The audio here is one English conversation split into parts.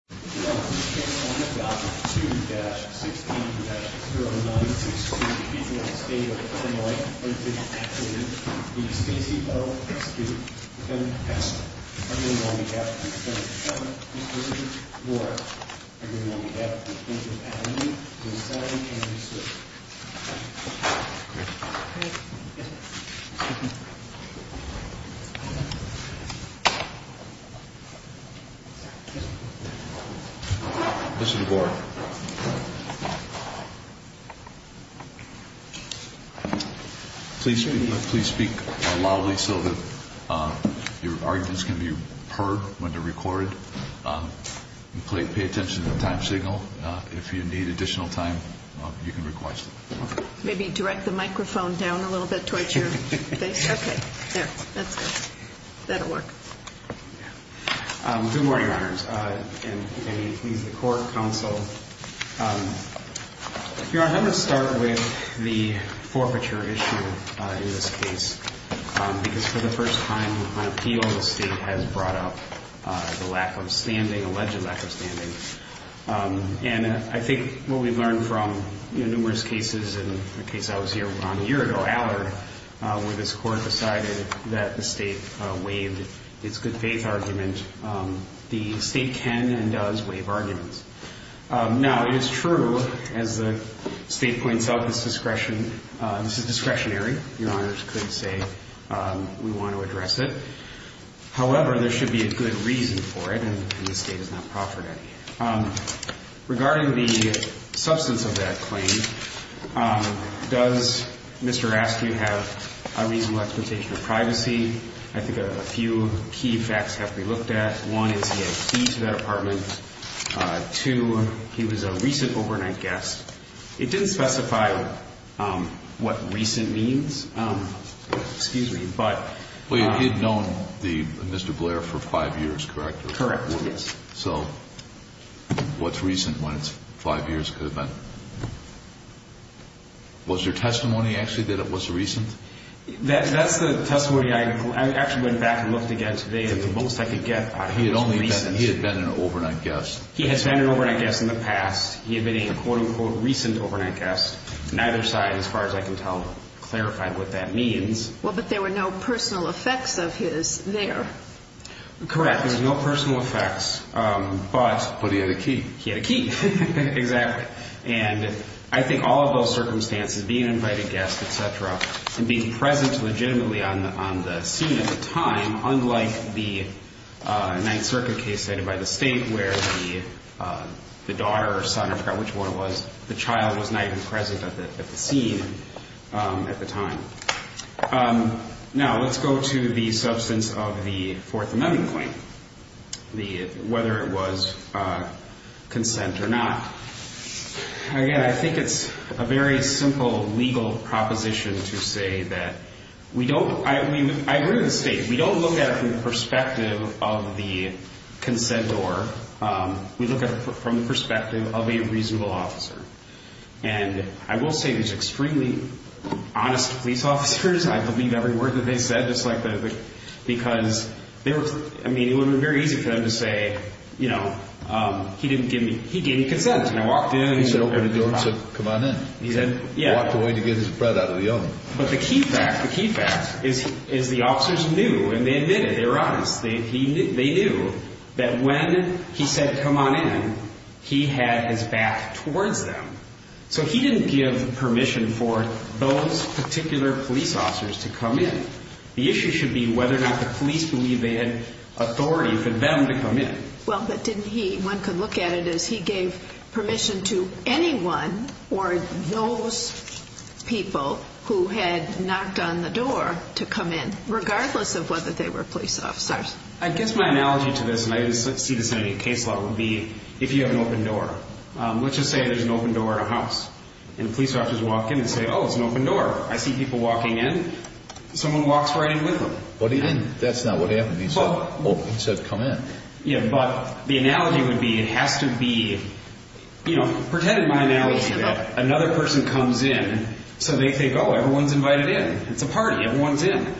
2-16-09 to exclude the people of the state of Illinois from taking action against Casey O. Askew, defendant of Askew. Agreeing will be given to the defendant, Mr. Askew, or agreeing will be given to the plaintiff and the defendant, Mr. Askew. Mr. DeBoer. Please speak loudly so that your arguments can be heard when they're recorded. Pay attention to the time signal. If you need additional time, you can request it. Maybe direct the microphone down a little bit towards your face. Okay, there. That's good. That'll work. Good morning, Your Honors. And please, the Court, Counsel. Your Honor, I'm going to start with the forfeiture issue in this case. Because for the first time on appeal, the state has brought up the lack of standing, alleged lack of standing. And I think what we've learned from numerous cases, and the case I was here on a year ago, Allard, where this Court decided that the state waived its good faith argument, the state can and does waive arguments. Now, it is true, as the state points out, this is discretionary. Your Honors could say we want to address it. However, there should be a good reason for it, and the state has not proffered any. Regarding the substance of that claim, does Mr. Askew have a reasonable expectation of privacy? I think a few key facts have to be looked at. One is he had fee to that apartment. Two, he was a recent overnight guest. It didn't specify what recent means. Well, you did know Mr. Blair for five years, correct? Correct, yes. So what's recent when it's five years could have been? Was there testimony, actually, that it was recent? That's the testimony I actually went back and looked again today, and the most I could get was recent. He had been an overnight guest. He has been an overnight guest in the past. He had been a, quote, unquote, recent overnight guest. Neither side, as far as I can tell, clarified what that means. Well, but there were no personal effects of his there. Correct. There were no personal effects, but he had a key. He had a key, exactly. And I think all of those circumstances, being an invited guest, et cetera, and being present legitimately on the scene at the time, unlike the Ninth Circuit case cited by the state where the daughter or son, I forgot which one it was, the child was not even present at the scene at the time. Now, let's go to the substance of the Fourth Amendment claim, whether it was consent or not. Again, I think it's a very simple legal proposition to say that we don't – I agree with the state. We don't look at it from the perspective of the consentor. We look at it from the perspective of a reasonable officer. And I will say these extremely honest police officers, I believe every word that they said, just like the – because they were – I mean, it would have been very easy for them to say, you know, he didn't give me – he gave me consent. And I walked in. He said, open the door and said, come on in. He said, yeah. Walked away to get his bread out of the oven. But the key fact, the key fact is the officers knew and they admitted, they were honest. They knew that when he said, come on in, he had his back towards them. So he didn't give permission for those particular police officers to come in. The issue should be whether or not the police believe they had authority for them to come in. Well, but didn't he – one could look at it as he gave permission to anyone or those people who had knocked on the door to come in, regardless of whether they were police officers. I guess my analogy to this, and I didn't see this in any case law, would be if you have an open door. Let's just say there's an open door in a house. And the police officers walk in and say, oh, it's an open door. I see people walking in. Someone walks right in with them. That's not what happened. He said, come in. But the analogy would be it has to be – pretend in my analogy that another person comes in. So they think, oh, everyone's invited in. It's a party. Everyone's in.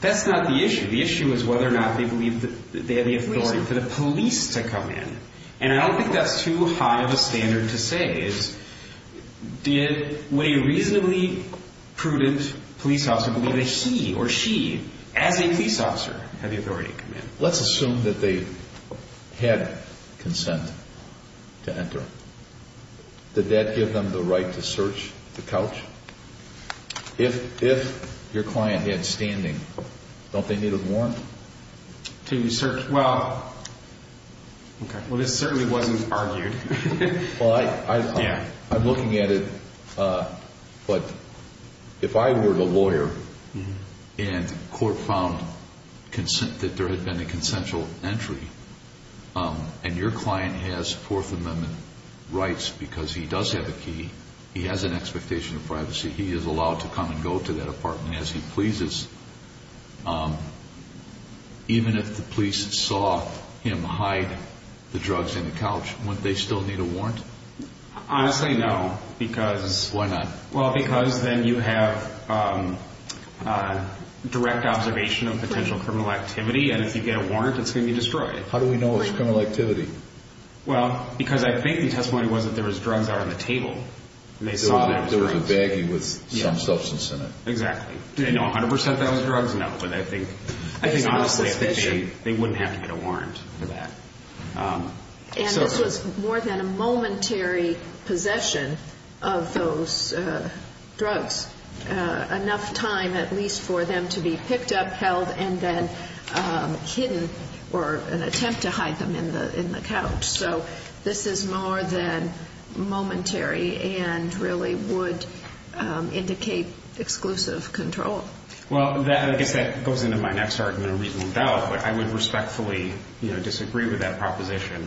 That's not the issue. The issue is whether or not they believe that they have the authority for the police to come in. And I don't think that's too high of a standard to say. Did a reasonably prudent police officer believe that he or she, as a police officer, had the authority to come in? Let's assume that they had consent to enter. Did that give them the right to search the couch? If your client had standing, don't they need a warrant? To search. Well, this certainly wasn't argued. Well, I'm looking at it, but if I were the lawyer and court found that there had been a consensual entry and your client has Fourth Amendment rights because he does have a key, he has an expectation of privacy, he is allowed to come and go to that apartment as he pleases, even if the police saw him hide the drugs in the couch, wouldn't they still need a warrant? Honestly, no. Why not? Well, because then you have direct observation of potential criminal activity, and if you get a warrant, it's going to be destroyed. How do we know it's criminal activity? Well, because I think the testimony was that there was drugs out on the table. There was a baggie with some substance in it. Exactly. Did they know 100% that was drugs? No, but I think honestly they wouldn't have to get a warrant for that. And this was more than a momentary possession of those drugs, enough time at least for them to be picked up, held, and then hidden or an attempt to hide them in the couch. So this is more than momentary and really would indicate exclusive control. Well, I guess that goes into my next argument, a reasonable doubt, but I would respectfully disagree with that proposition.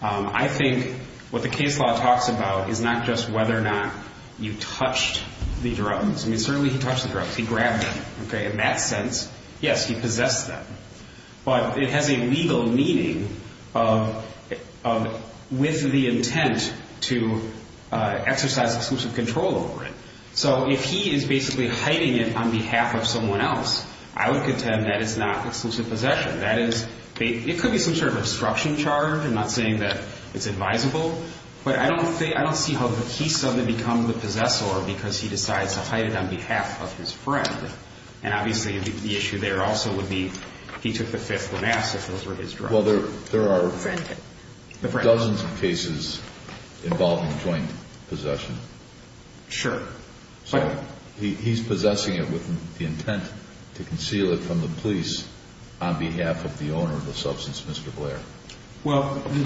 I think what the case law talks about is not just whether or not you touched the drugs. I mean, certainly he touched the drugs. He grabbed them. In that sense, yes, he possessed them. But it has a legal meaning with the intent to exercise exclusive control over it. So if he is basically hiding it on behalf of someone else, I would contend that is not exclusive possession. That is, it could be some sort of obstruction charge. I'm not saying that it's advisable, but I don't see how he suddenly becomes the possessor because he decides to hide it on behalf of his friend. And obviously the issue there also would be he took the fifth of the masks if those were his drugs. Well, there are dozens of cases involving joint possession. Sure. So he's possessing it with the intent to conceal it from the police on behalf of the owner of the substance, Mr. Blair. Well, the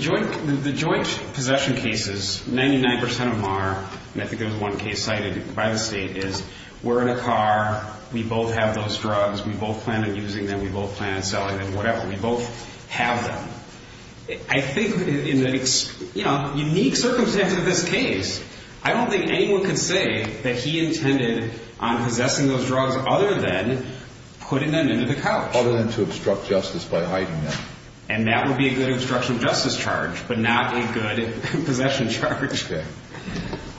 joint possession cases, 99% of them are, and I think there was one case cited by the state, is we're in a car, we both have those drugs, we both plan on using them, we both plan on selling them, whatever. We both have them. I think in the unique circumstances of this case, I don't think anyone could say that he intended on possessing those drugs other than putting them into the couch. Other than to obstruct justice by hiding them. And that would be a good obstruction of justice charge, but not a good possession charge. Okay.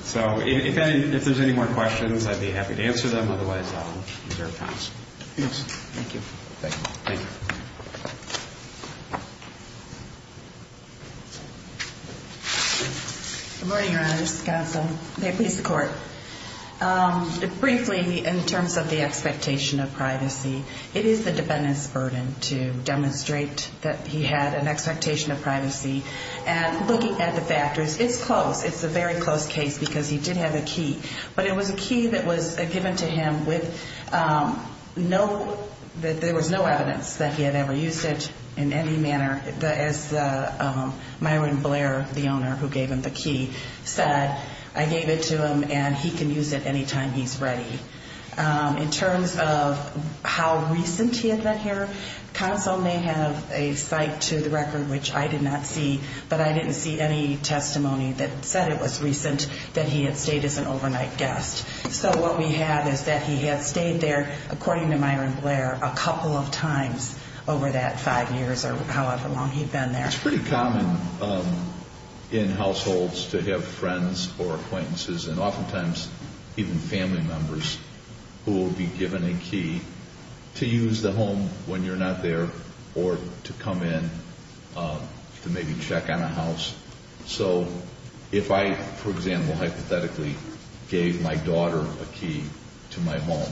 So if there's any more questions, I'd be happy to answer them. Otherwise, I'll reserve time. Yes. Thank you. Thank you. Good morning, Your Honor. This is the counsel. May it please the Court. Briefly, in terms of the expectation of privacy, it is the defendant's burden to demonstrate that he had an expectation of privacy. And looking at the factors, it's close. It's a very close case because he did have a key. But it was a key that was given to him with no – that there was no evidence that he had ever used it in any manner. As Myron Blair, the owner who gave him the key, said, I gave it to him and he can use it anytime he's ready. In terms of how recent he had been here, counsel may have a cite to the record, which I did not see, but I didn't see any testimony that said it was recent that he had stayed as an overnight guest. So what we have is that he had stayed there, according to Myron Blair, a couple of times over that five years or however long he'd been there. It's pretty common in households to have friends or acquaintances and oftentimes even family members who will be given a key to use the home when you're not there or to come in to maybe check on a house. So if I, for example, hypothetically gave my daughter a key to my home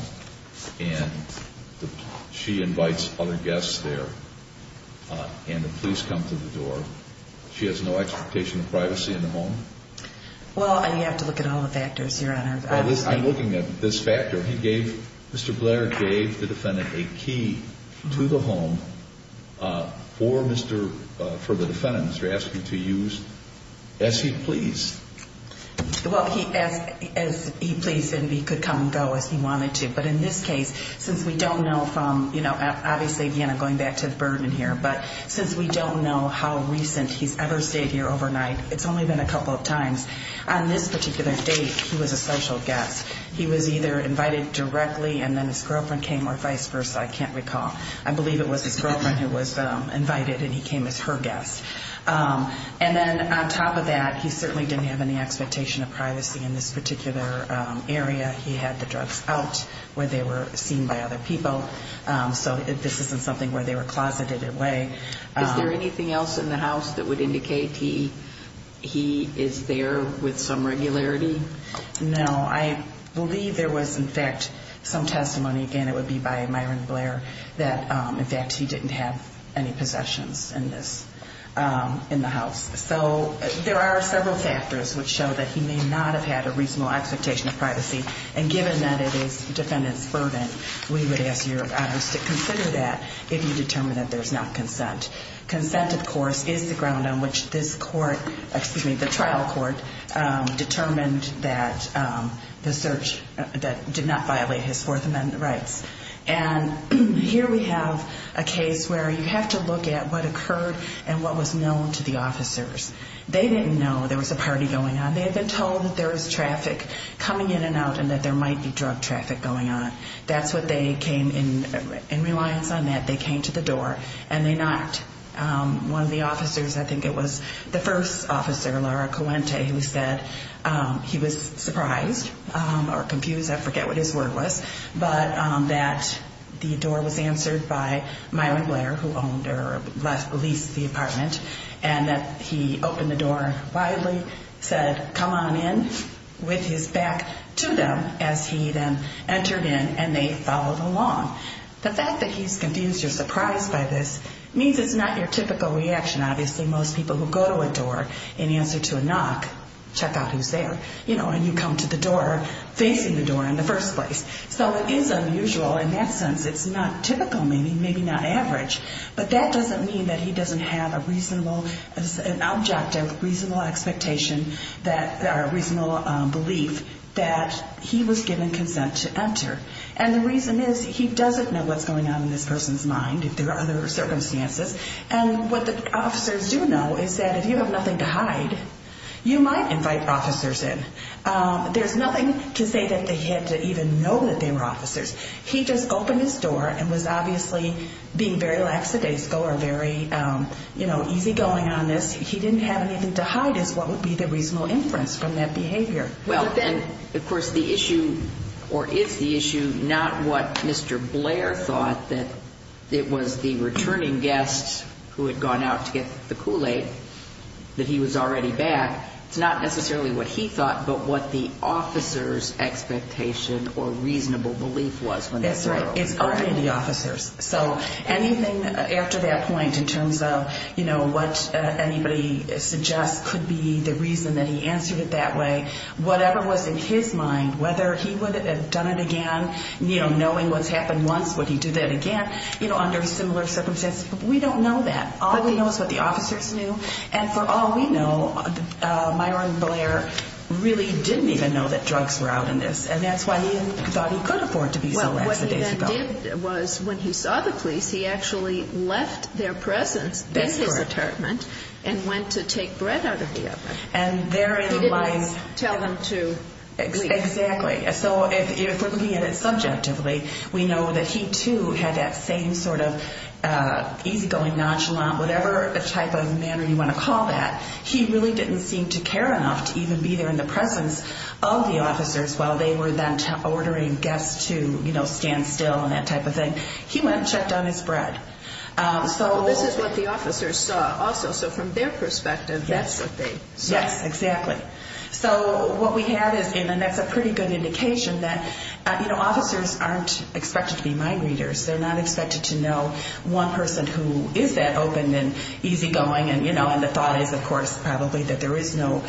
and she invites other guests there and the police come to the door, she has no expectation of privacy in the home? Well, you have to look at all the factors, Your Honor. Well, I'm looking at this factor. Mr. Blair gave the defendant a key to the home for the defendant, Mr. Askew, to use as he pleased. Well, he asked as he pleased and he could come and go as he wanted to. But in this case, since we don't know from, you know, obviously again I'm going back to the burden here, but since we don't know how recent he's ever stayed here overnight, it's only been a couple of times. On this particular date, he was a social guest. He was either invited directly and then his girlfriend came or vice versa, I can't recall. I believe it was his girlfriend who was invited and he came as her guest. And then on top of that, he certainly didn't have any expectation of privacy in this particular area. He had the drugs out where they were seen by other people. So this isn't something where they were closeted away. Is there anything else in the house that would indicate he is there with some regularity? No. I believe there was in fact some testimony, again it would be by Myron Blair, that in fact he didn't have any possessions in the house. So there are several factors which show that he may not have had a reasonable expectation of privacy. And given that it is the defendant's burden, we would ask your audience to consider that if you determine that there is not consent. Consent, of course, is the ground on which this court, excuse me, the trial court, determined that the search did not violate his Fourth Amendment rights. And here we have a case where you have to look at what occurred and what was known to the officers. They didn't know there was a party going on. And they had been told that there was traffic coming in and out and that there might be drug traffic going on. That's what they came in. In reliance on that, they came to the door and they knocked. One of the officers, I think it was the first officer, Laura Coente, who said he was surprised or confused, I forget what his word was, but that the door was answered by Myron Blair, who owned or leased the apartment, and that he opened the door widely, said, come on in with his back to them as he then entered in and they followed along. The fact that he's confused or surprised by this means it's not your typical reaction. Obviously, most people who go to a door and answer to a knock, check out who's there. You know, and you come to the door facing the door in the first place. So it is unusual in that sense. It's not typical, maybe, maybe not average. But that doesn't mean that he doesn't have a reasonable objective, reasonable expectation or reasonable belief that he was given consent to enter. And the reason is he doesn't know what's going on in this person's mind, if there are other circumstances. And what the officers do know is that if you have nothing to hide, you might invite officers in. There's nothing to say that they had to even know that they were officers. He just opened his door and was obviously being very lackadaisical or very, you know, easygoing on this. He didn't have anything to hide is what would be the reasonable inference from that behavior. Well, then, of course, the issue or is the issue not what Mr. Blair thought, that it was the returning guests who had gone out to get the Kool-Aid, that he was already back. It's not necessarily what he thought, but what the officer's expectation or reasonable belief was. That's right. It's already the officers. So anything after that point in terms of, you know, what anybody suggests could be the reason that he answered it that way, whatever was in his mind, whether he would have done it again, you know, knowing what's happened once, would he do that again, you know, under similar circumstances. We don't know that. All we know is what the officers knew. And for all we know, Myron Blair really didn't even know that drugs were out in this, and that's why he thought he could afford to be so lackadaisical. Well, what he then did was when he saw the police, he actually left their presence in his apartment and went to take bread out of the oven. He didn't tell them to leave. Exactly. So if we're looking at it subjectively, we know that he, too, had that same sort of easygoing nonchalant, whatever type of manner you want to call that, he really didn't seem to care enough to even be there in the presence of the officers while they were then ordering guests to, you know, stand still and that type of thing. He went and checked on his bread. So this is what the officers saw also. So from their perspective, that's what they saw. Yes, exactly. So what we have is, and that's a pretty good indication that, you know, officers aren't expected to be mind readers. They're not expected to know one person who is that open and easygoing and, you know, and the thought is, of course, probably that there is no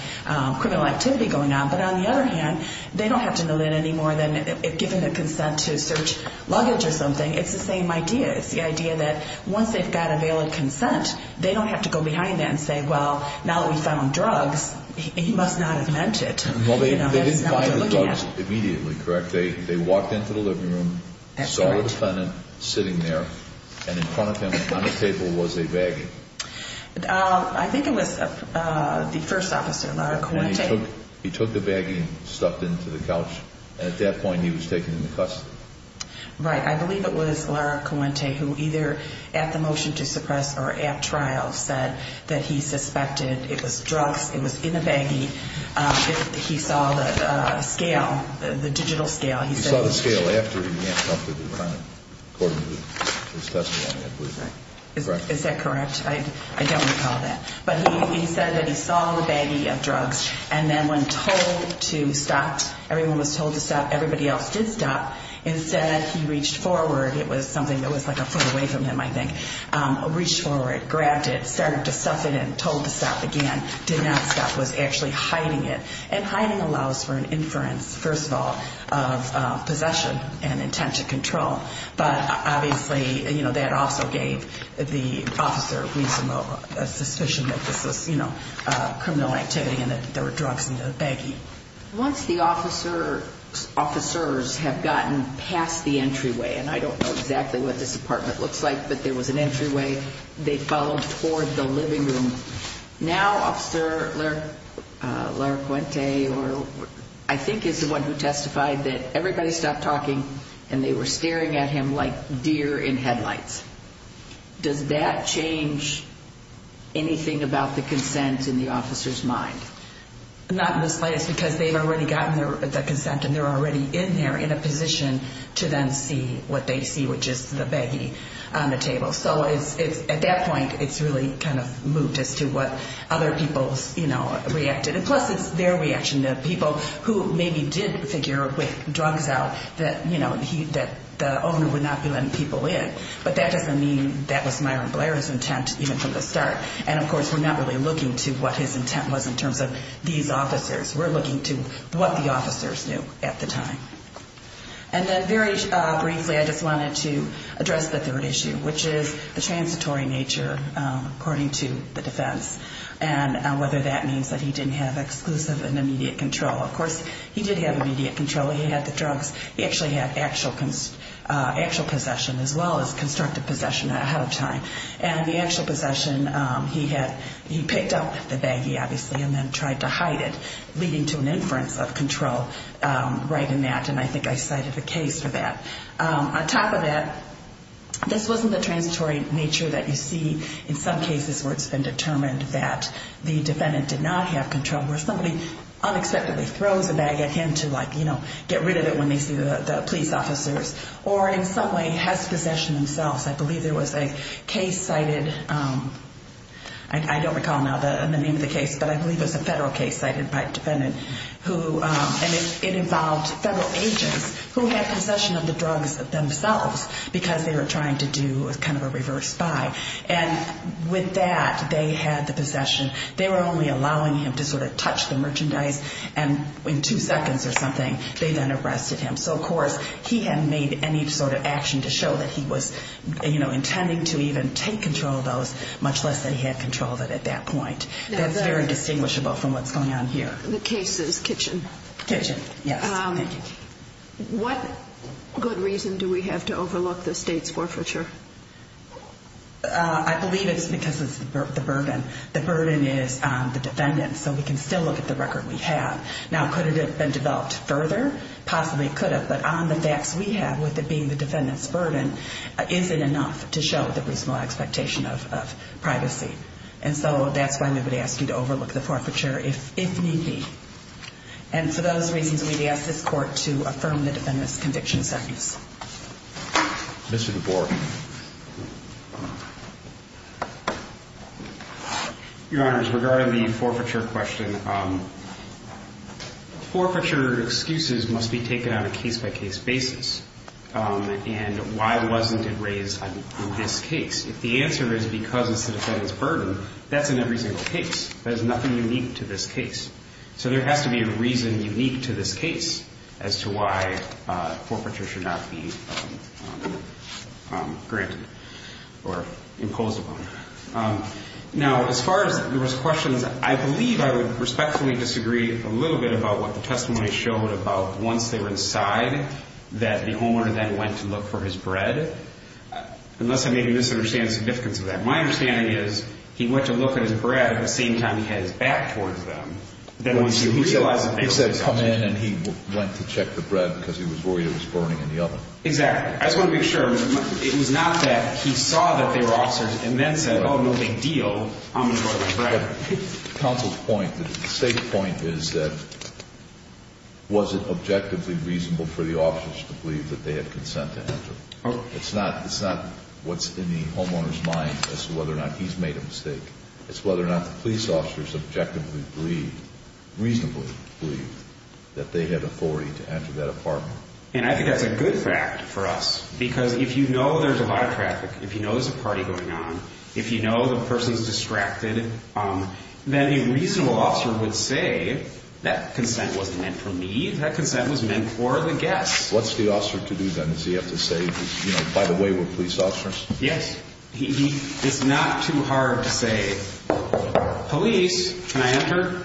criminal activity going on. But on the other hand, they don't have to know that any more than if given a consent to search luggage or something, it's the same idea. It's the idea that once they've got a valid consent, they don't have to go behind that and say, well, now that we found drugs, he must not have meant it. Well, they didn't find the drugs immediately, correct? They walked into the living room, saw the defendant sitting there, and in front of him on the table was a baggie. I think it was the first officer, Lara Coente. He took the baggie and stuffed it into the couch, and at that point he was taken into custody. Right. I believe it was Lara Coente who either at the motion to suppress or at trial said that he suspected it was drugs, it was in the baggie. He saw the scale, the digital scale. He saw the scale after he had come to the crime court. Is that correct? I don't recall that. But he said that he saw the baggie of drugs, and then when told to stop, everyone was told to stop, everybody else did stop. Instead, he reached forward. It was something that was like a foot away from him, I think. Reached forward, grabbed it, started to stuff it in, told to stop again, did not stop, was actually hiding it. And hiding allows for an inference, first of all, of possession and intent to control. But obviously that also gave the officer a suspicion that this was criminal activity and that there were drugs in the baggie. Once the officers have gotten past the entryway, and I don't know exactly what this apartment looks like, but there was an entryway, they followed toward the living room. Now Officer Laracuente, I think is the one who testified, that everybody stopped talking and they were staring at him like deer in headlights. Does that change anything about the consent in the officer's mind? Not in the slightest because they've already gotten the consent and they're already in there in a position to then see what they see, which is the baggie on the table. So at that point it's really kind of moved as to what other people reacted. And plus it's their reaction to people who maybe did figure with drugs out that the owner would not be letting people in. But that doesn't mean that was Myron Blair's intent even from the start. And of course we're not really looking to what his intent was in terms of these officers. We're looking to what the officers knew at the time. And then very briefly I just wanted to address the third issue, which is the transitory nature according to the defense and whether that means that he didn't have exclusive and immediate control. Of course he did have immediate control. He had the drugs. He actually had actual possession as well as constructive possession ahead of time. And the actual possession he picked up the baggie, obviously, and then tried to hide it, leading to an inference of control right in that. And I think I cited a case for that. On top of that, this wasn't the transitory nature that you see in some cases where it's been determined that the defendant did not have control, where somebody unexpectedly throws a bag at him to, like, you know, get rid of it when they see the police officers, or in some way has possession themselves. I believe there was a case cited, I don't recall now the name of the case, but I believe it was a federal case cited by a defendant. And it involved federal agents who had possession of the drugs themselves because they were trying to do kind of a reverse buy. And with that, they had the possession. They were only allowing him to sort of touch the merchandise, and in two seconds or something they then arrested him. So, of course, he hadn't made any sort of action to show that he was, you know, intending to even take control of those, much less that he had control of it at that point. That's very distinguishable from what's going on here. The case is Kitchen. Kitchen, yes. What good reason do we have to overlook the state's forfeiture? I believe it's because of the burden. The burden is on the defendant, so we can still look at the record we have. Now, could it have been developed further? Possibly it could have, but on the facts we have, with it being the defendant's burden, is it enough to show the reasonable expectation of privacy? And so that's why I'm going to ask you to overlook the forfeiture, if need be. And for those reasons, we'd ask this Court to affirm the defendant's conviction sentence. Mr. DeBoer. Your Honors, regarding the forfeiture question, forfeiture excuses must be taken on a case-by-case basis. And why wasn't it raised in this case? If the answer is because it's the defendant's burden, that's in every single case. There's nothing unique to this case. So there has to be a reason unique to this case as to why forfeiture should not be granted or imposed upon it. Now, as far as there was questions, I believe I would respectfully disagree a little bit about what the testimony showed about once they were inside that the homeowner then went to look for his bread. Unless I may be misunderstanding the significance of that. My understanding is he went to look at his bread at the same time he had his back towards them. He said come in and he went to check the bread because he was worried it was burning in the oven. Exactly. I just want to make sure. It was not that he saw that they were officers and then said, oh, no big deal, I'm going to go get my bread. Counsel's point, the State's point is that was it objectively reasonable for the It's not what's in the homeowner's mind as to whether or not he's made a mistake. It's whether or not the police officers objectively believe, reasonably believe, that they had authority to enter that apartment. And I think that's a good fact for us because if you know there's a lot of traffic, if you know there's a party going on, if you know the person's distracted, then a reasonable officer would say that consent wasn't meant for me, that consent was meant for the guests. What's the officer to do then? Does he have to say, by the way, we're police officers? Yes. It's not too hard to say, police, can I enter?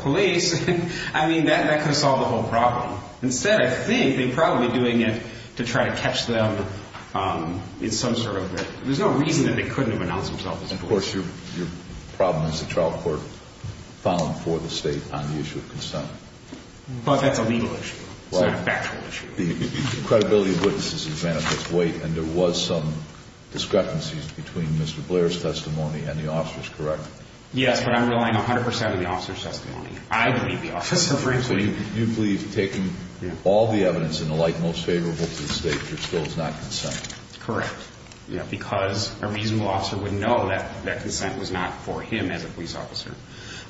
Police. I mean, that could have solved the whole problem. Instead, I think they're probably doing it to try to catch them in some sort of way. There's no reason that they couldn't have announced themselves as police. Of course, your problem is the trial court filing for the State on the issue of consent. But that's a legal issue. It's not a factual issue. The credibility of witnesses is manifest weight, and there was some discrepancies between Mr. Blair's testimony and the officer's, correct? Yes, but I'm relying 100 percent on the officer's testimony. I believe the officer. So you believe, taking all the evidence and the like, most favorable to the State, there still is not consent? Correct. Because a reasonable officer would know that that consent was not for him as a police officer.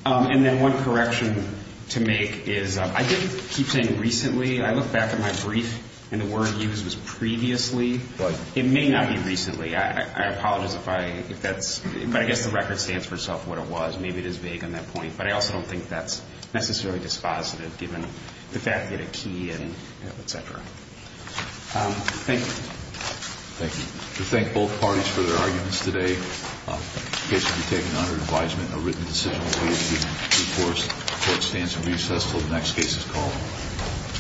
And then one correction to make is I did keep saying recently. I look back at my brief, and the word used was previously. It may not be recently. I apologize if that's – but I guess the record stands for itself what it was. Maybe it is vague on that point. But I also don't think that's necessarily dispositive, given the fact that a key and et cetera. Thank you. Thank you. We thank both parties for their arguments today. The case will be taken under advisement. A written decision will be made to enforce what stands for recess until the next case is called.